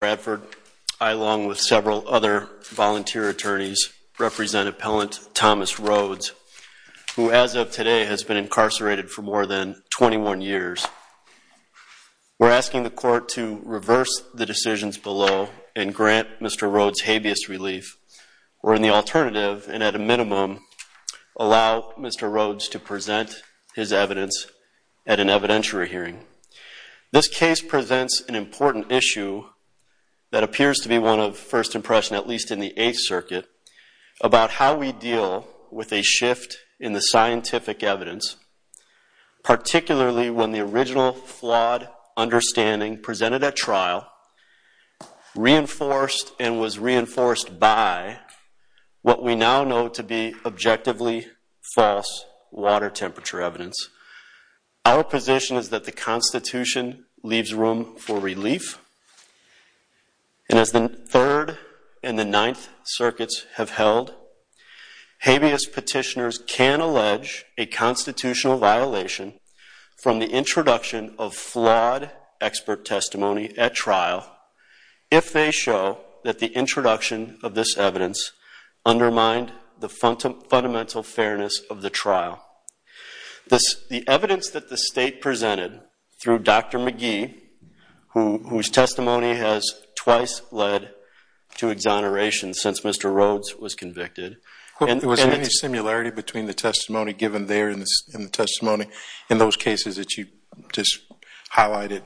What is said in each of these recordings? Bradford, I, along with several other volunteer attorneys, represent Appellant Thomas Rhodes, who as of today has been incarcerated for more than 21 years. We're asking the court to reverse the decisions below and grant Mr. Rhodes habeas relief or in the alternative, and at a minimum, allow Mr. Rhodes to present his evidence at an evidentiary hearing. This case presents an important issue that appears to be one of first impression, at least in the Eighth Circuit, about how we deal with a shift in the scientific evidence, particularly when the original flawed understanding presented at trial reinforced and was reinforced by what we now know to be objectively false water temperature evidence. Our position is that the Constitution leaves room for relief, and as the Third and the Ninth Circuits have held, habeas petitioners can allege a constitutional violation from the introduction of flawed expert testimony at trial if they show that the introduction of this evidence undermined the fundamental fairness of the trial. The evidence that the state presented through Dr. McGee, whose testimony has twice led to exoneration since Mr. Rhodes was convicted, and- Was there any similarity between the testimony given there and the testimony in those cases that you just highlighted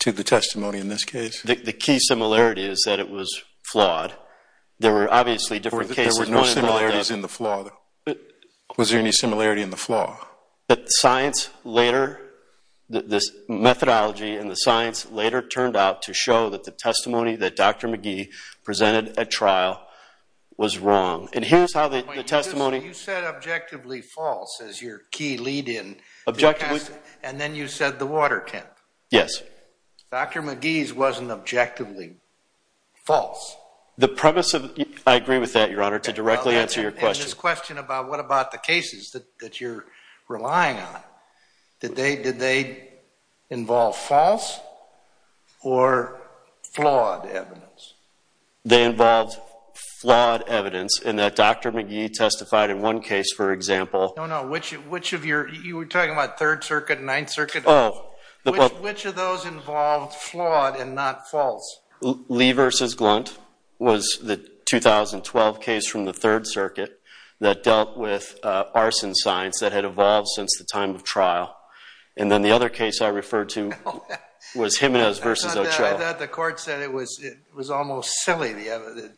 to the testimony in this case? The key similarity is that it was flawed. There were obviously different cases- There were no similarities in the flaw. Was there any similarity in the flaw? That the science later, this methodology and the science later turned out to show that the testimony that Dr. McGee presented at trial was wrong. And here's how the testimony- You said objectively false as your key lead in- Objectively- And then you said the water temp. Yes. Dr. McGee's wasn't objectively false. The premise of- I agree with that, Your Honor, to directly answer your question. And this question about what about the cases that you're relying on? Did they involve false or flawed evidence? They involved flawed evidence in that Dr. McGee testified in one case, for example- No, no. Which of your- You were talking about Third Circuit and Ninth Circuit? Oh. Which of those involved flawed and not false? Lee versus Glunt. Was the 2012 case from the Third Circuit that dealt with arson science that had evolved since the time of trial. And then the other case I referred to was Jimenez versus Ochoa. I thought the court said it was almost silly, the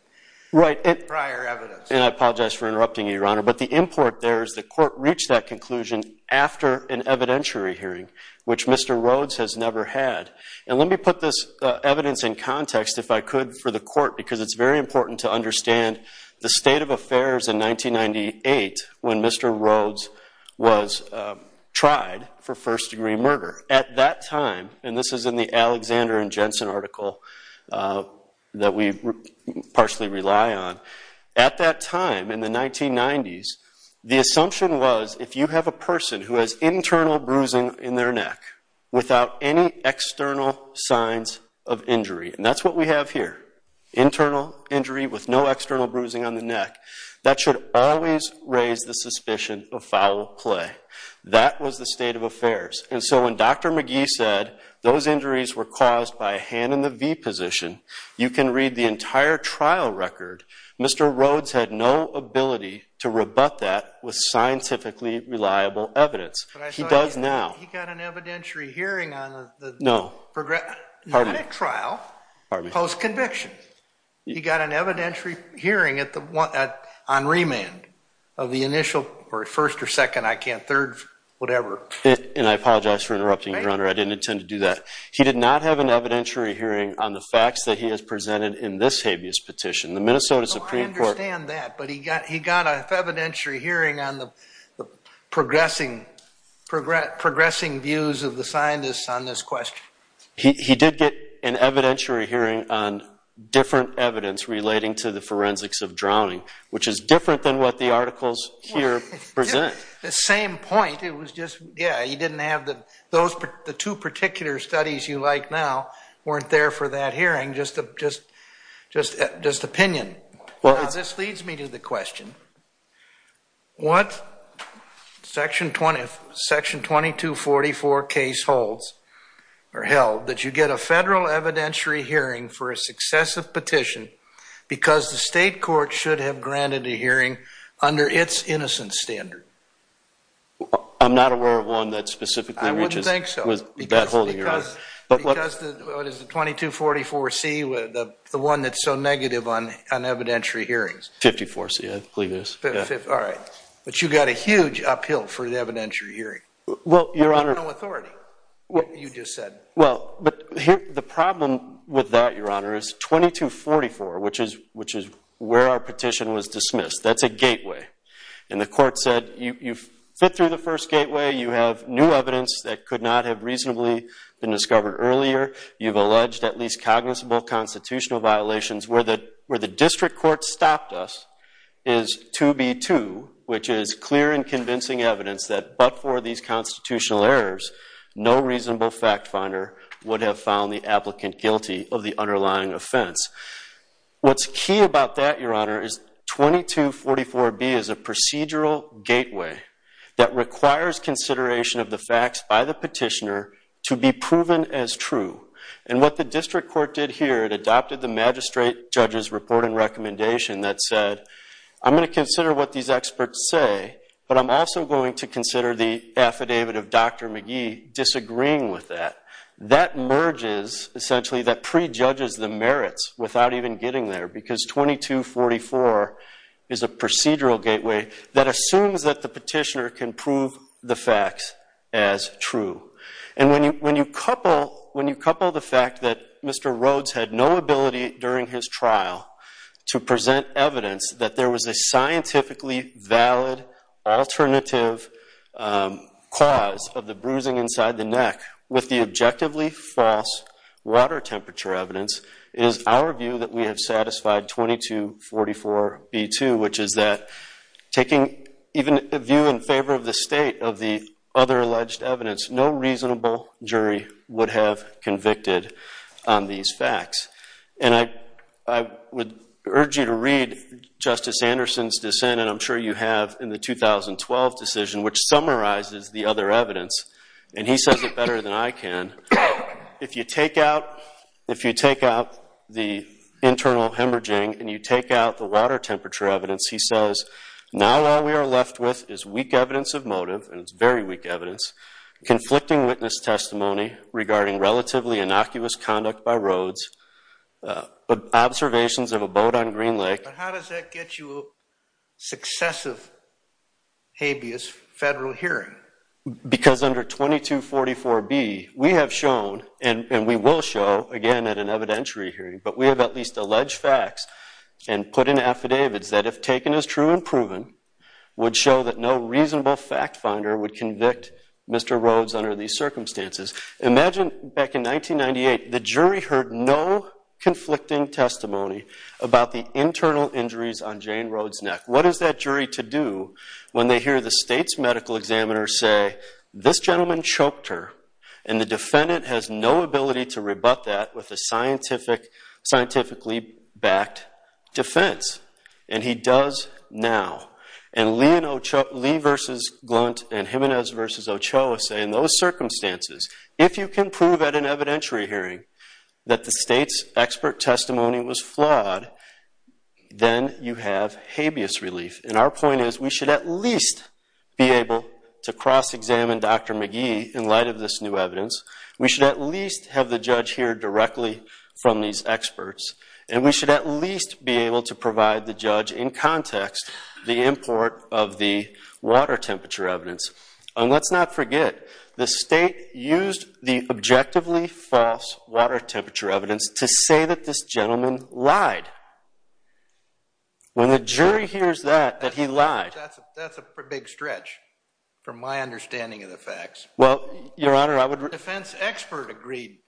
prior evidence. And I apologize for interrupting you, Your Honor. But the import there is the court reached that conclusion after an evidentiary hearing, which Mr. Rhodes has never had. And let me put this evidence in context, if I could, for the court, because it's very important to understand the state of affairs in 1998 when Mr. Rhodes was tried for first degree murder. At that time, and this is in the Alexander and Jensen article that we partially rely on, at that time in the 1990s, the assumption was if you have a person who has internal bruising in their neck without any external signs of injury, and that's what we have here, internal injury with no external bruising on the neck, that should always raise the suspicion of foul play. That was the state of affairs. And so when Dr. McGee said those injuries were caused by a hand in the V position, you can read the entire trial record, Mr. Rhodes had no ability to rebut that with scientifically reliable evidence. He does now. He got an evidentiary hearing on the... No. Not at trial, post-conviction. He got an evidentiary hearing on remand of the initial, or first or second, I can't, third, whatever. And I apologize for interrupting, Your Honor. I didn't intend to do that. He did not have an evidentiary hearing on the facts that he has presented in this habeas petition. The Minnesota Supreme Court... I understand that, but he got an evidentiary hearing on the progressing views of the scientists on this question. He did get an evidentiary hearing on different evidence relating to the forensics of drowning, which is different than what the articles here present. The same point. It was just, yeah, he didn't have the... Those, the two particular studies you like now weren't there for that hearing, just opinion. This leads me to the question. What section 2244 case holds, or held, that you get a federal evidentiary hearing for a successive petition because the state court should have granted a hearing under its innocence standard? I'm not aware of one that specifically reaches... I wouldn't think so. ...with that holding, Your Honor. Because, what is it, 2244C, the one that's so negative on evidentiary hearings? 54C, I believe. All right. But you got a huge uphill for the evidentiary hearing. Well, Your Honor... No authority, you just said. Well, but here, the problem with that, Your Honor, is 2244, which is where our petition was dismissed. That's a gateway. And the court said, you've fit through the first gateway. You have new evidence that could not have reasonably been discovered earlier. You've alleged at least cognizable constitutional violations. Where the district court stopped us is 2B2, which is clear and convincing evidence that but for these constitutional errors, no reasonable fact finder would have found the applicant guilty of the underlying offense. What's key about that, Your Honor, is 2244B is a procedural gateway that requires consideration of the facts by the petitioner to be proven as true. And what the district court did here, it adopted the magistrate judge's report and recommendation that said, I'm going to consider what these experts say, but I'm also going to consider the affidavit of Dr. McGee disagreeing with that. That merges, essentially, that prejudges the merits without even getting there. Because 2244 is a procedural gateway that assumes that the petitioner can prove the facts as true. And when you couple the fact that Mr. Rhodes had no ability during his trial to present evidence that there was a scientifically valid alternative cause of the bruising inside the neck with the objectively false water temperature evidence, it is our view that we have satisfied 2244B2, which is that taking even a view in favor of the state of the other alleged evidence, no reasonable jury would have convicted on these facts. And I would urge you to read Justice Anderson's dissent, and I'm sure you have, in the 2012 decision, which summarizes the other evidence. And he says it better than I can. If you take out the internal hemorrhaging and you take out the water temperature evidence, he says, now all we are left with is weak evidence of motive, and it's very weak evidence, conflicting witness testimony regarding relatively innocuous conduct by Rhodes, observations of a boat on Green Lake. But how does that get you a successive habeas federal hearing? Because under 2244B, we have shown, and we will show again at an evidentiary hearing, but we have at least alleged facts would show that no reasonable fact finder would convict Mr. Rhodes under these circumstances. Imagine back in 1998, the jury heard no conflicting testimony about the internal injuries on Jane Rhodes' neck. What is that jury to do when they hear the state's medical examiner say, this gentleman choked her, and the defendant has no ability to rebut that with a scientifically backed defense? And he does now. And Lee versus Glunt and Jimenez versus Ochoa say, in those circumstances, if you can prove at an evidentiary hearing that the state's expert testimony was flawed, then you have habeas relief. And our point is, we should at least be able to cross-examine Dr. McGee in light of this new evidence. We should at least have the judge hear directly from these experts. And we should at least be able to provide the judge, in context, the import of the water temperature evidence. And let's not forget, the state used the objectively false water temperature evidence to say that this gentleman lied. When the jury hears that, that he lied. That's a big stretch, from my understanding of the facts. Well, Your Honor, I would read. The defense expert agreed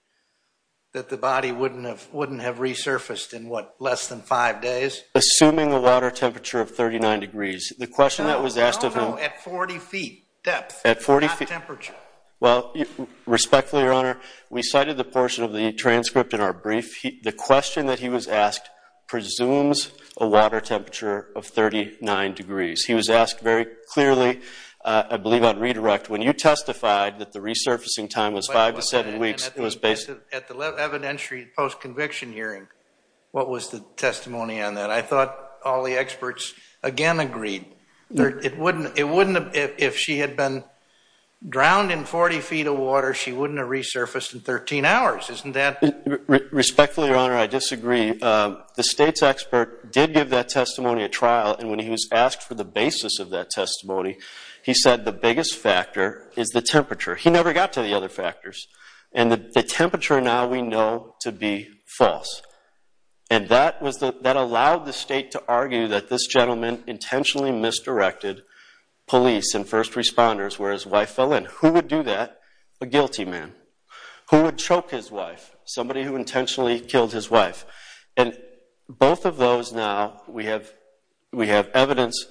that the body wouldn't have resurfaced in, what, less than five days? Assuming a water temperature of 39 degrees. The question that was asked of him. No, no, at 40 feet depth, not temperature. Well, respectfully, Your Honor, we cited the portion of the transcript in our brief. The question that he was asked presumes a water temperature of 39 degrees. He was asked very clearly, I believe on redirect, when you testified that the resurfacing time was five to seven weeks, it was based on? At the evidentiary post-conviction hearing, what was the testimony on that? I thought all the experts, again, agreed. It wouldn't have, if she had been drowned in 40 feet of water, she wouldn't have resurfaced in 13 hours. Isn't that? Respectfully, Your Honor, I disagree. The state's expert did give that testimony at trial. And when he was asked for the basis of that testimony, he said the biggest factor is the temperature. He never got to the other factors. And the temperature now we know to be false. And that allowed the state to argue that this gentleman intentionally misdirected police and first responders where his wife fell in. Who would do that? A guilty man. Who would choke his wife? Somebody who intentionally killed his wife. And both of those now, we have evidence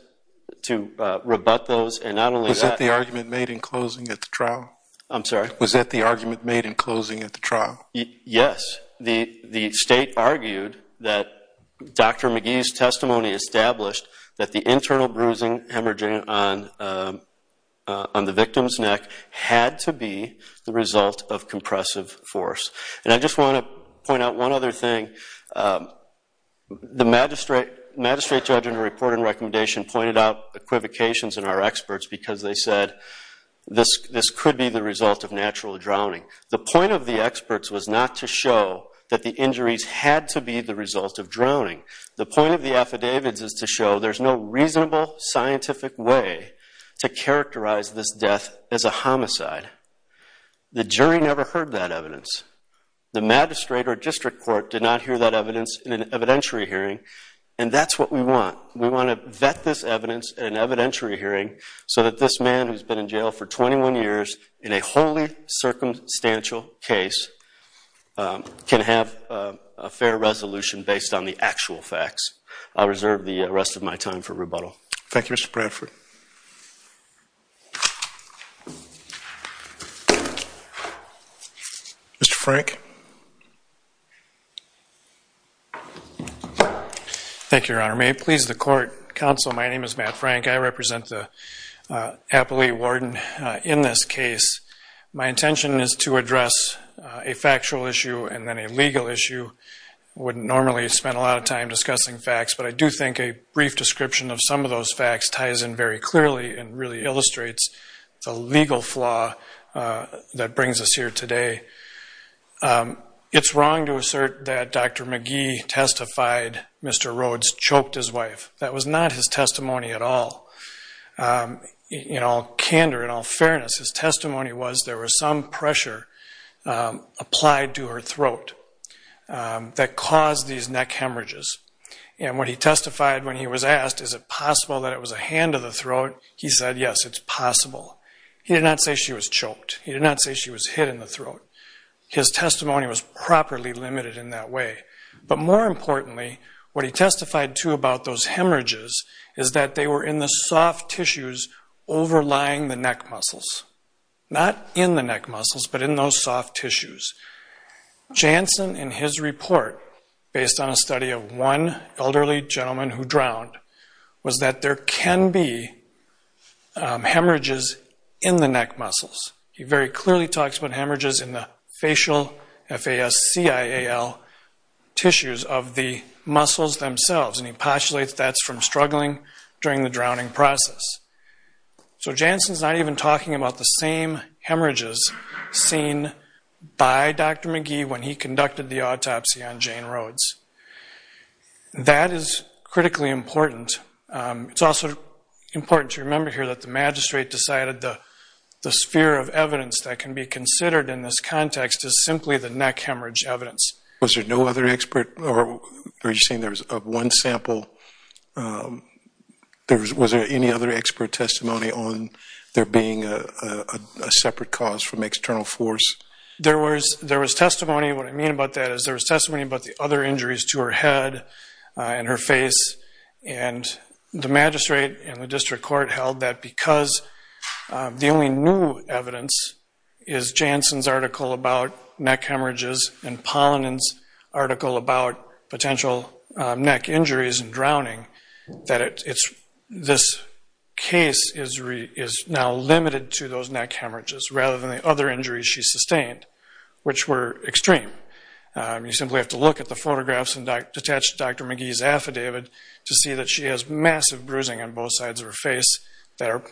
to rebut those. And not only that. Was that the argument made in closing at the trial? I'm sorry? Was that the argument made in closing at the trial? Yes. The state argued that Dr. McGee's testimony established that the internal bruising emerging on the victim's neck had to be the result of compressive force. And I just want to point out one other thing. The magistrate judge in her report and recommendation pointed out equivocations in our experts because they said this could be the result of natural drowning. The point of the experts was not to show that the injuries had to be the result of drowning. The point of the affidavits is to show there's no reasonable scientific way to characterize this death as a homicide. The jury never heard that evidence. The magistrate or district court did not hear that evidence in an evidentiary hearing. And that's what we want. We want to vet this evidence in an evidentiary hearing so that this man, who's been in jail for 21 years in a wholly circumstantial case, can have a fair resolution based on the actual facts. I'll reserve the rest of my time for rebuttal. Thank you, Mr. Bradford. Mr. Frank. Thank you, Your Honor. May it please the court, counsel, my name is Matt Frank. I represent the appellee warden in this case. My intention is to address a factual issue and then a legal issue. I wouldn't normally spend a lot of time discussing facts, but I do think a brief description of some of those facts ties in very clearly and really illustrates the legal flaw that brings us here today. It's wrong to assert that Dr. McGee testified Mr. Rhodes choked his wife. That was not his testimony at all. In all candor, in all fairness, his testimony was there was some pressure applied to her throat that caused these neck hemorrhages. And when he testified, when he was asked, is it possible that it was a hand of the throat, he said, yes, it's possible. He did not say she was choked. He did not say she was hit in the throat. His testimony was properly limited in that way. But more importantly, what he testified, too, about those hemorrhages is that they were in the soft tissues overlying the neck muscles. Not in the neck muscles, but in those soft tissues. Jansen, in his report, based on a study of one elderly gentleman who drowned, was that there can be hemorrhages in the neck muscles. He very clearly talks about hemorrhages in the facial, F-A-S-C-I-A-L, tissues of the muscles themselves. And he postulates that's from struggling during the drowning process. So Jansen's not even talking about the same hemorrhages seen by Dr. McGee when he conducted the autopsy on Jane Rhodes. That is critically important. It's also important to remember here that the magistrate decided the sphere of evidence that can be considered in this context is simply the neck hemorrhage evidence. Was there no other expert? Or are you saying there was one sample? Was there any other expert testimony on there being a separate cause from external force? There was testimony. What I mean about that is there was testimony about the other injuries to her head and her face. And the magistrate and the district court held that because the only new evidence is Jansen's article about neck hemorrhages and Pollinen's article about potential neck injuries and drowning, that this case is now limited to those neck hemorrhages rather than the other injuries she sustained, which were extreme. You simply have to look at the photographs attached to Dr. McGee's affidavit to see that she has massive bruising on both sides of her face that are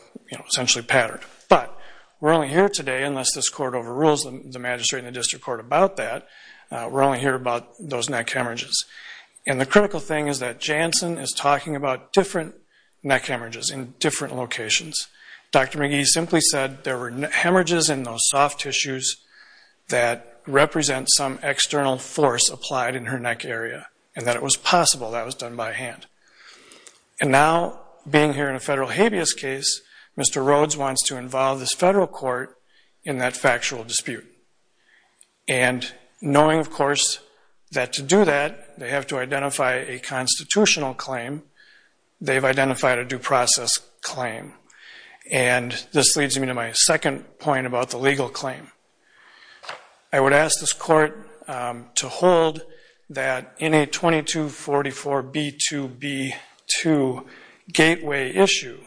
essentially patterned. But we're only here today, unless this court overrules the magistrate and the district court about that, we're only here about those neck hemorrhages. And the critical thing is that Jansen is talking about different neck hemorrhages in different locations. Dr. McGee simply said there were hemorrhages in those soft tissues that represent some external force applied in her neck area and that it was possible that was done by hand. And now, being here in a federal habeas case, Mr. Rhodes wants to involve this federal court in that factual dispute. And knowing, of course, that to do that, they have to identify a constitutional claim, they've identified a due process claim. And this leads me to my second point about the legal claim. I would ask this court to hold that in a 2244B2B2 gateway issue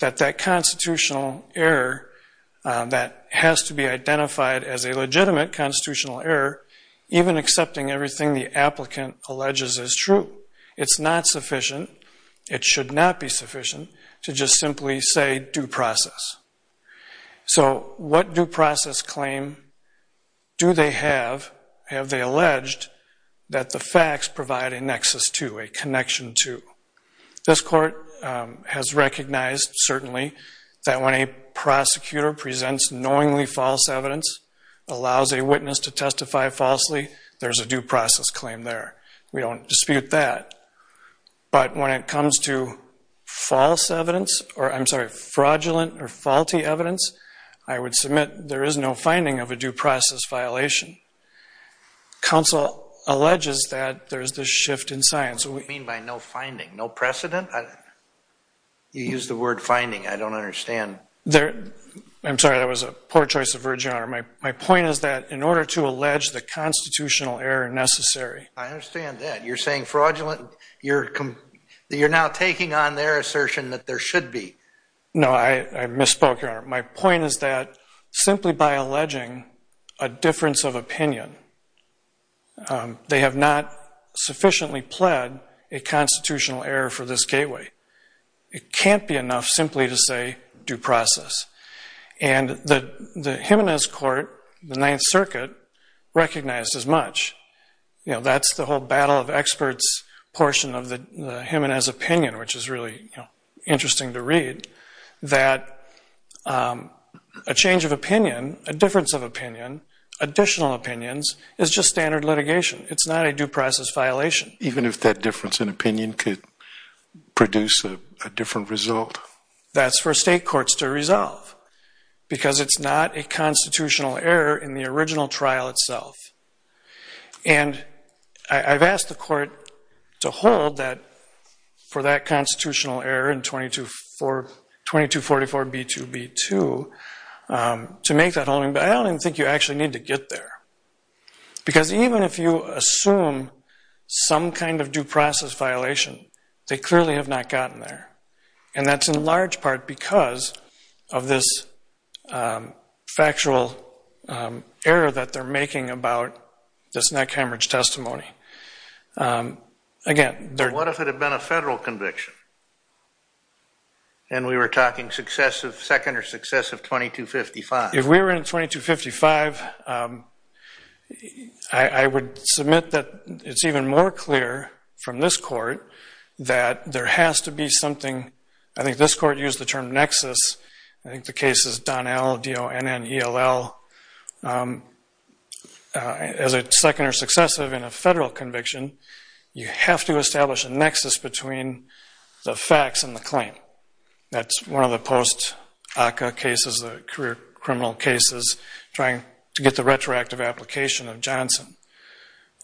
that that constitutional error that has to be identified as a legitimate constitutional error, even accepting everything the applicant alleges is true. It's not sufficient, it should not be sufficient, to just simply say due process. So what due process claim do they have, have they alleged, that the facts provide a nexus to, a connection to? This court has recognized, certainly, that when a prosecutor presents knowingly false evidence, allows a witness to testify falsely, there's a due process claim there. We don't dispute that. But when it comes to fraudulent or faulty evidence, I would submit there is no finding of a due process violation. Counsel alleges that there is this shift in science. What do you mean by no finding? No precedent? You used the word finding, I don't understand. I'm sorry, that was a poor choice of words, Your Honor. My point is that in order to allege the constitutional error necessary. I understand that. You're saying fraudulent, you're now taking on their assertion that there should be. No, I misspoke, Your Honor. My point is that simply by alleging a difference of opinion, they have not sufficiently pled a constitutional error for this gateway. It can't be enough simply to say due process. And the Jimenez court, the Ninth Circuit, recognized as much. That's the whole battle of experts portion of the Jimenez opinion, which is really interesting to read, that a change of opinion, a difference of opinion, additional opinions, is just standard litigation. It's not a due process violation. Even if that difference in opinion could produce a different result? That's for state courts to resolve, because it's not a constitutional error in the original trial itself. And I've asked the court to hold that for that constitutional error in 2244B2B2 to make that holding, but I don't even think you actually need to get there. Because even if you assume some kind of due process violation, they clearly have not gotten there. And that's in large part because of this factual error that they're making about this neck hemorrhage testimony. Again, they're- What if it had been a federal conviction? And we were talking success of second or success of 2255? If we were in 2255, I would submit that it's even more clear from this court that there has to be something. I think this court used the term nexus. I think the case is Donnell, D-O-N-N-E-L-L. As a second or successive in a federal conviction, you have to establish a nexus between the facts and the claim. That's one of the post-ACCA cases, the career criminal cases, trying to get the retroactive application of Johnson.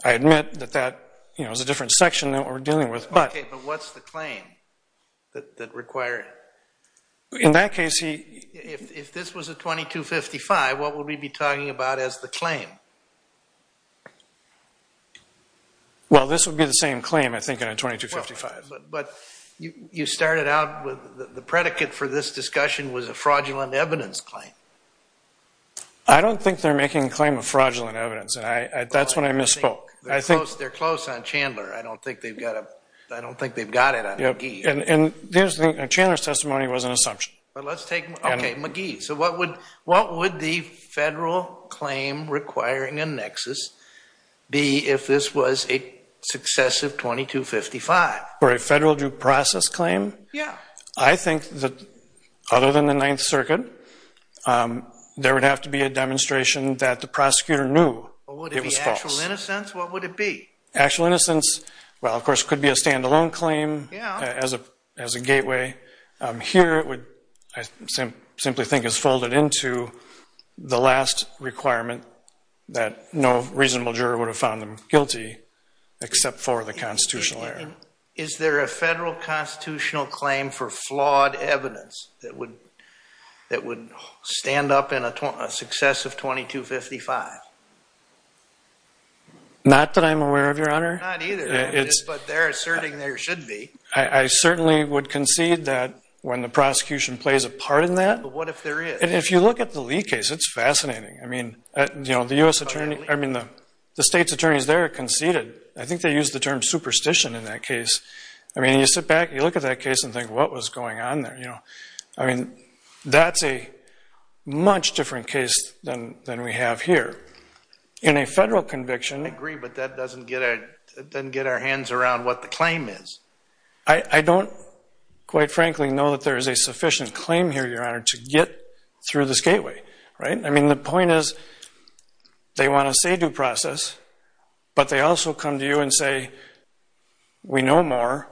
I admit that that is a different section than what we're dealing with, but- OK, but what's the claim that require it? In that case, he- If this was a 2255, what would we be talking about as the claim? Well, this would be the same claim, I think, in a 2255. But you started out with the predicate for this discussion was a fraudulent evidence claim. I don't think they're making a claim of fraudulent evidence. That's when I misspoke. They're close on Chandler. I don't think they've got it on McGee. And Chandler's testimony was an assumption. But let's take McGee. So what would the federal claim requiring a nexus be if this was a successive 2255? For a federal due process claim? Yeah. I think that, other than the Ninth Circuit, there would have to be a demonstration that the prosecutor knew it was false. But would it be actual innocence? What would it be? Actual innocence, well, of course, could be a standalone claim as a gateway. Here, it would, I simply think, is folded into the last requirement that no reasonable juror would have found them guilty except for the constitutional error. Is there a federal constitutional claim for flawed evidence that would stand up in a successive 2255? Not that I'm aware of, Your Honor. Not either. But they're asserting there should be. I certainly would concede that when the prosecution plays a part in that. But what if there is? If you look at the Lee case, it's fascinating. I mean, the US attorney, I mean, the states attorneys there conceded. I think they used the term superstition in that case. I mean, you sit back, you look at that case and think, what was going on there? I mean, that's a much different case than we have here. In a federal conviction, I agree, but that doesn't get our hands around what the claim is. I don't, quite frankly, know that there is a sufficient claim here, Your Honor, to get through this gateway. I mean, the point is, they want to say due process, but they also come to you and say, we know more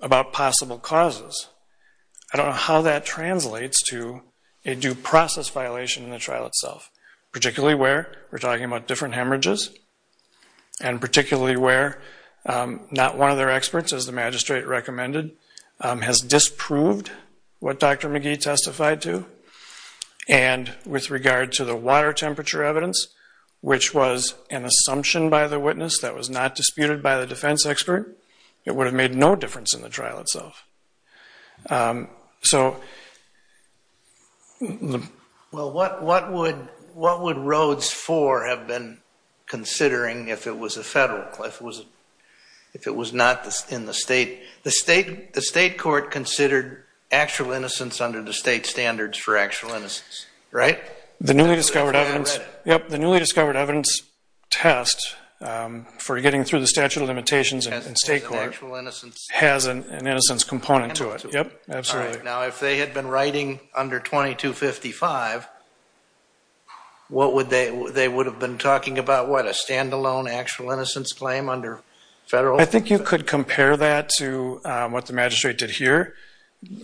about possible causes. I don't know how that translates to a due process violation in the trial itself, particularly where we're talking about different hemorrhages, and particularly where not one of their experts, as the magistrate recommended, has disproved what Dr. McGee testified to. And with regard to the water temperature evidence, which was an assumption by the witness that was not disputed by the defense expert, it would have made no difference in the trial itself. So the- Well, what would Rhodes 4 have been considering if it was a federal, if it was not in the state? The state court considered actual innocence under the state standards for actual innocence, right? The newly discovered evidence, yep. The newly discovered evidence test for getting through the statute of limitations in state court has an innocence component to it. Yep, absolutely. Now, if they had been writing under 2255, what would they, they would have been talking about? What, a standalone actual innocence claim under federal? I think you could compare that to what the magistrate did here,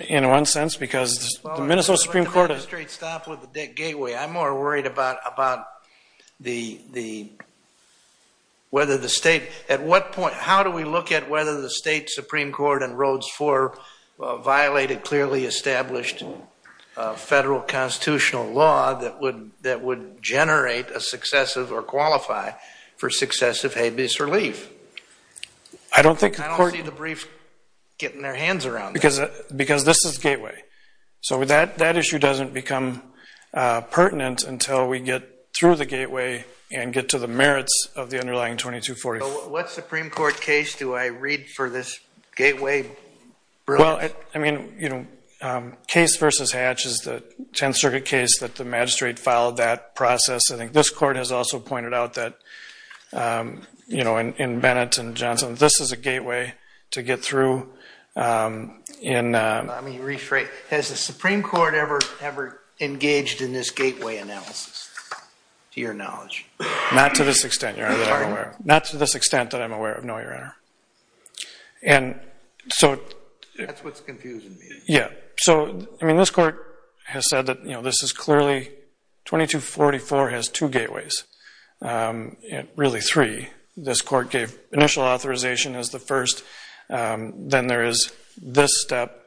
in one sense, because the Minnesota Supreme Court has- Well, I don't think the magistrate stopped with the gateway. I'm more worried about whether the state, at what point, how do we look at whether the state Supreme Court in Rhodes 4 violated clearly established federal constitutional law that would generate a successive or qualify for successive habeas relief? I don't think the court- I don't see the brief getting their hands around that. Because this is gateway. So that issue doesn't become pertinent until we get through the gateway and get to the merits of the underlying 2245. What Supreme Court case do I read for this gateway? Well, I mean, case versus hatch is the 10th Circuit case that the magistrate followed that process. I think this court has also pointed out that in Bennett and Johnson, this is a gateway to get through in- Let me rephrase. Has the Supreme Court ever engaged in this gateway analysis, to your knowledge? Not to this extent, Your Honor, that I'm aware of. Not to this extent that I'm aware of, no, Your Honor. And so- That's what's confusing me. Yeah. So, I mean, this court has said that this is clearly- 2244 has two gateways, really three. This court gave initial authorization as the first. Then there is this step.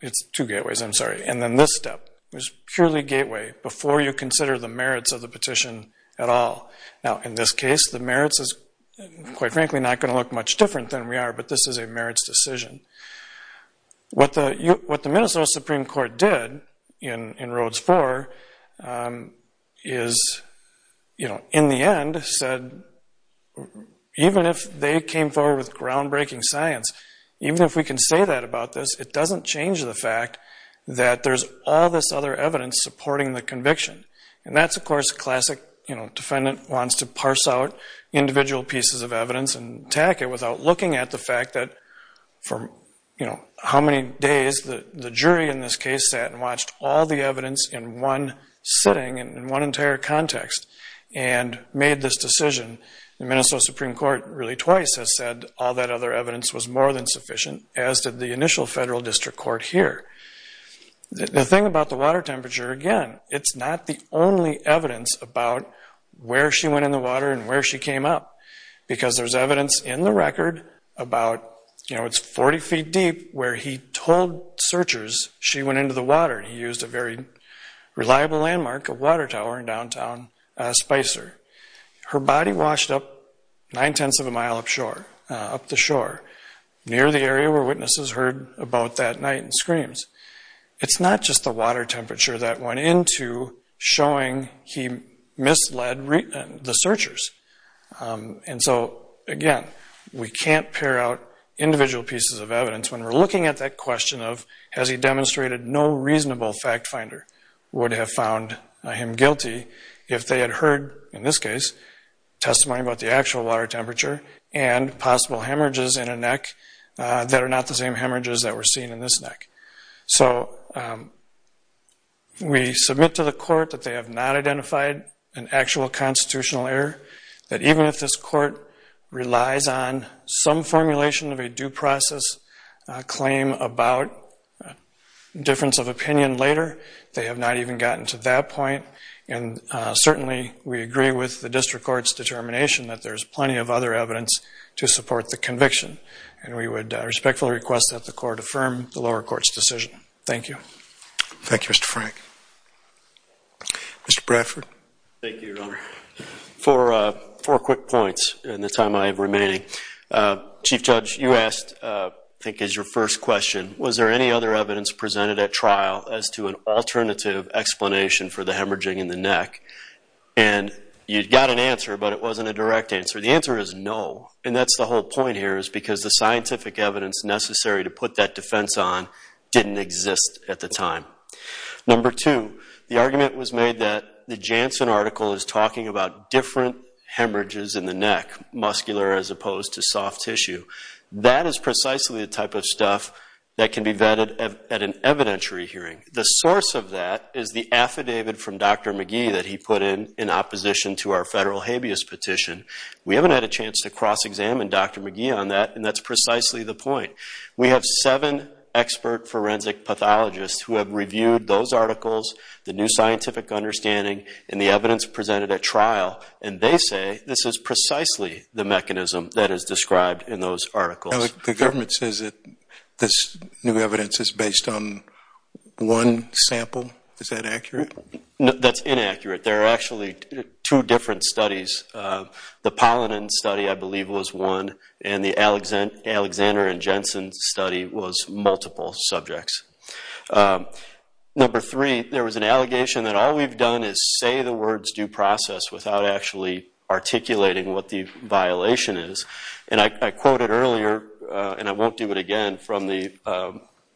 It's two gateways, I'm sorry. And then this step is purely gateway before you consider the merits of the petition at all. Now, in this case, the merits is, quite frankly, not going to look much different than we are. But this is a merits decision. What the Minnesota Supreme Court did in Rhodes IV is, in the end, said, even if they came forward with groundbreaking science, even if we can say that about this, it doesn't change the fact that there's all this other evidence supporting the conviction. And that's, of course, a classic defendant wants to parse out individual pieces of evidence and attack it without looking at the fact that for how many days the jury in this case sat and watched all the evidence in one sitting and in one entire context and made this decision, the Minnesota Supreme Court really twice has said all that other evidence was more than sufficient, as did the initial federal district court here. The thing about the water temperature, again, it's not the only evidence about where she went in the water and where she came up. Because there's evidence in the record about, you know, it's 40 feet deep where he told searchers she went into the water. He used a very reliable landmark, a water tower in downtown Spicer. Her body washed up 9 tenths of a mile up the shore, near the area where witnesses heard about that night and screams. It's not just the water temperature that went into showing he misled the searchers. And so, again, we can't pare out individual pieces of evidence when we're looking at that question of, has he demonstrated no reasonable fact finder would have found him guilty if they had heard, in this case, testimony about the actual water temperature and possible hemorrhages in a neck that are not the same hemorrhages that were seen in this neck. So we submit to the court that they have not identified an actual constitutional error, that even if this court relies on some formulation of a due process claim about difference of opinion later, they have not even gotten to that point. And certainly, we agree with the district court's determination that there's plenty of other evidence to support the conviction. And we would respectfully request that the court affirm the lower court's decision. Thank you. Thank you, Mr. Frank. Mr. Bradford. Thank you, Your Honor. Four quick points in the time I have remaining. Chief Judge, you asked, I think is your first question, was there any other evidence presented at trial as to an alternative explanation for the hemorrhaging in the neck? And you got an answer, but it wasn't a direct answer. The answer is no. And that's the whole point here, is because the scientific evidence necessary to put that defense on didn't exist at the time. Number two, the argument was made that the Janssen article is talking about different hemorrhages in the neck, muscular as opposed to soft tissue. That is precisely the type of stuff that can be vetted at an evidentiary hearing. The source of that is the affidavit from Dr. McGee that he put in in opposition to our federal habeas petition. We haven't had a chance to cross-examine Dr. McGee on that, and that's precisely the point. We have seven expert forensic pathologists the new scientific understanding, and the evidence presented at trial. And they say this is precisely the mechanism that is described in those articles. The government says that this new evidence is based on one sample. Is that accurate? That's inaccurate. There are actually two different studies. The Pollinen study, I believe, was one, and the Alexander and Janssen study was multiple subjects. Number three, there was an allegation that all we've done is say the words due process without actually articulating what the violation is. And I quoted earlier, and I won't do it again, from the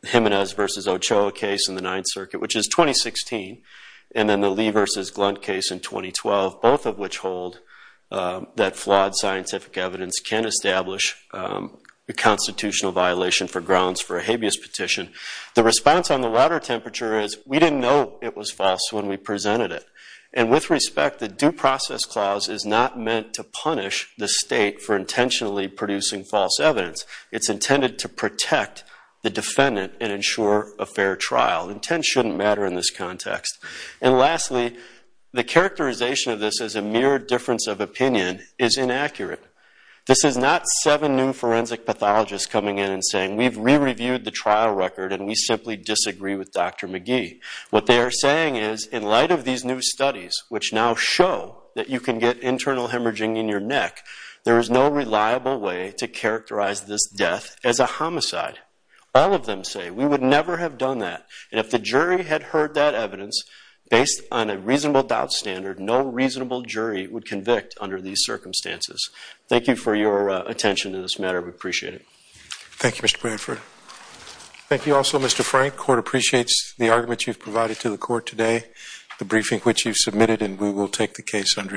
Jimenez versus Ochoa case in the Ninth Circuit, which is 2016, and then the Lee versus Glunt case in 2012, both of which hold that flawed scientific evidence can establish a constitutional violation for grounds for a habeas petition. The response on the water temperature is we didn't know it was false when we presented it. And with respect, the due process clause is not meant to punish the state for intentionally producing false evidence. It's intended to protect the defendant and ensure a fair trial. Intent shouldn't matter in this context. And lastly, the characterization of this as a mere difference of opinion is inaccurate. This is not seven new forensic pathologists coming in and saying we've re-reviewed the trial record and we simply disagree with Dr. McGee. What they are saying is, in light of these new studies, which now show that you can get internal hemorrhaging in your neck, there is no reliable way to characterize this death as a homicide. All of them say we would never have done that. And if the jury had heard that evidence, based on a reasonable doubt standard, no reasonable jury would convict under these circumstances. Thank you for your attention to this matter. We appreciate it. Thank you, Mr. Bradford. Thank you also, Mr. Frank. The court appreciates the argument you've provided to the court today, the briefing which you've submitted, and we will take the case under advisement.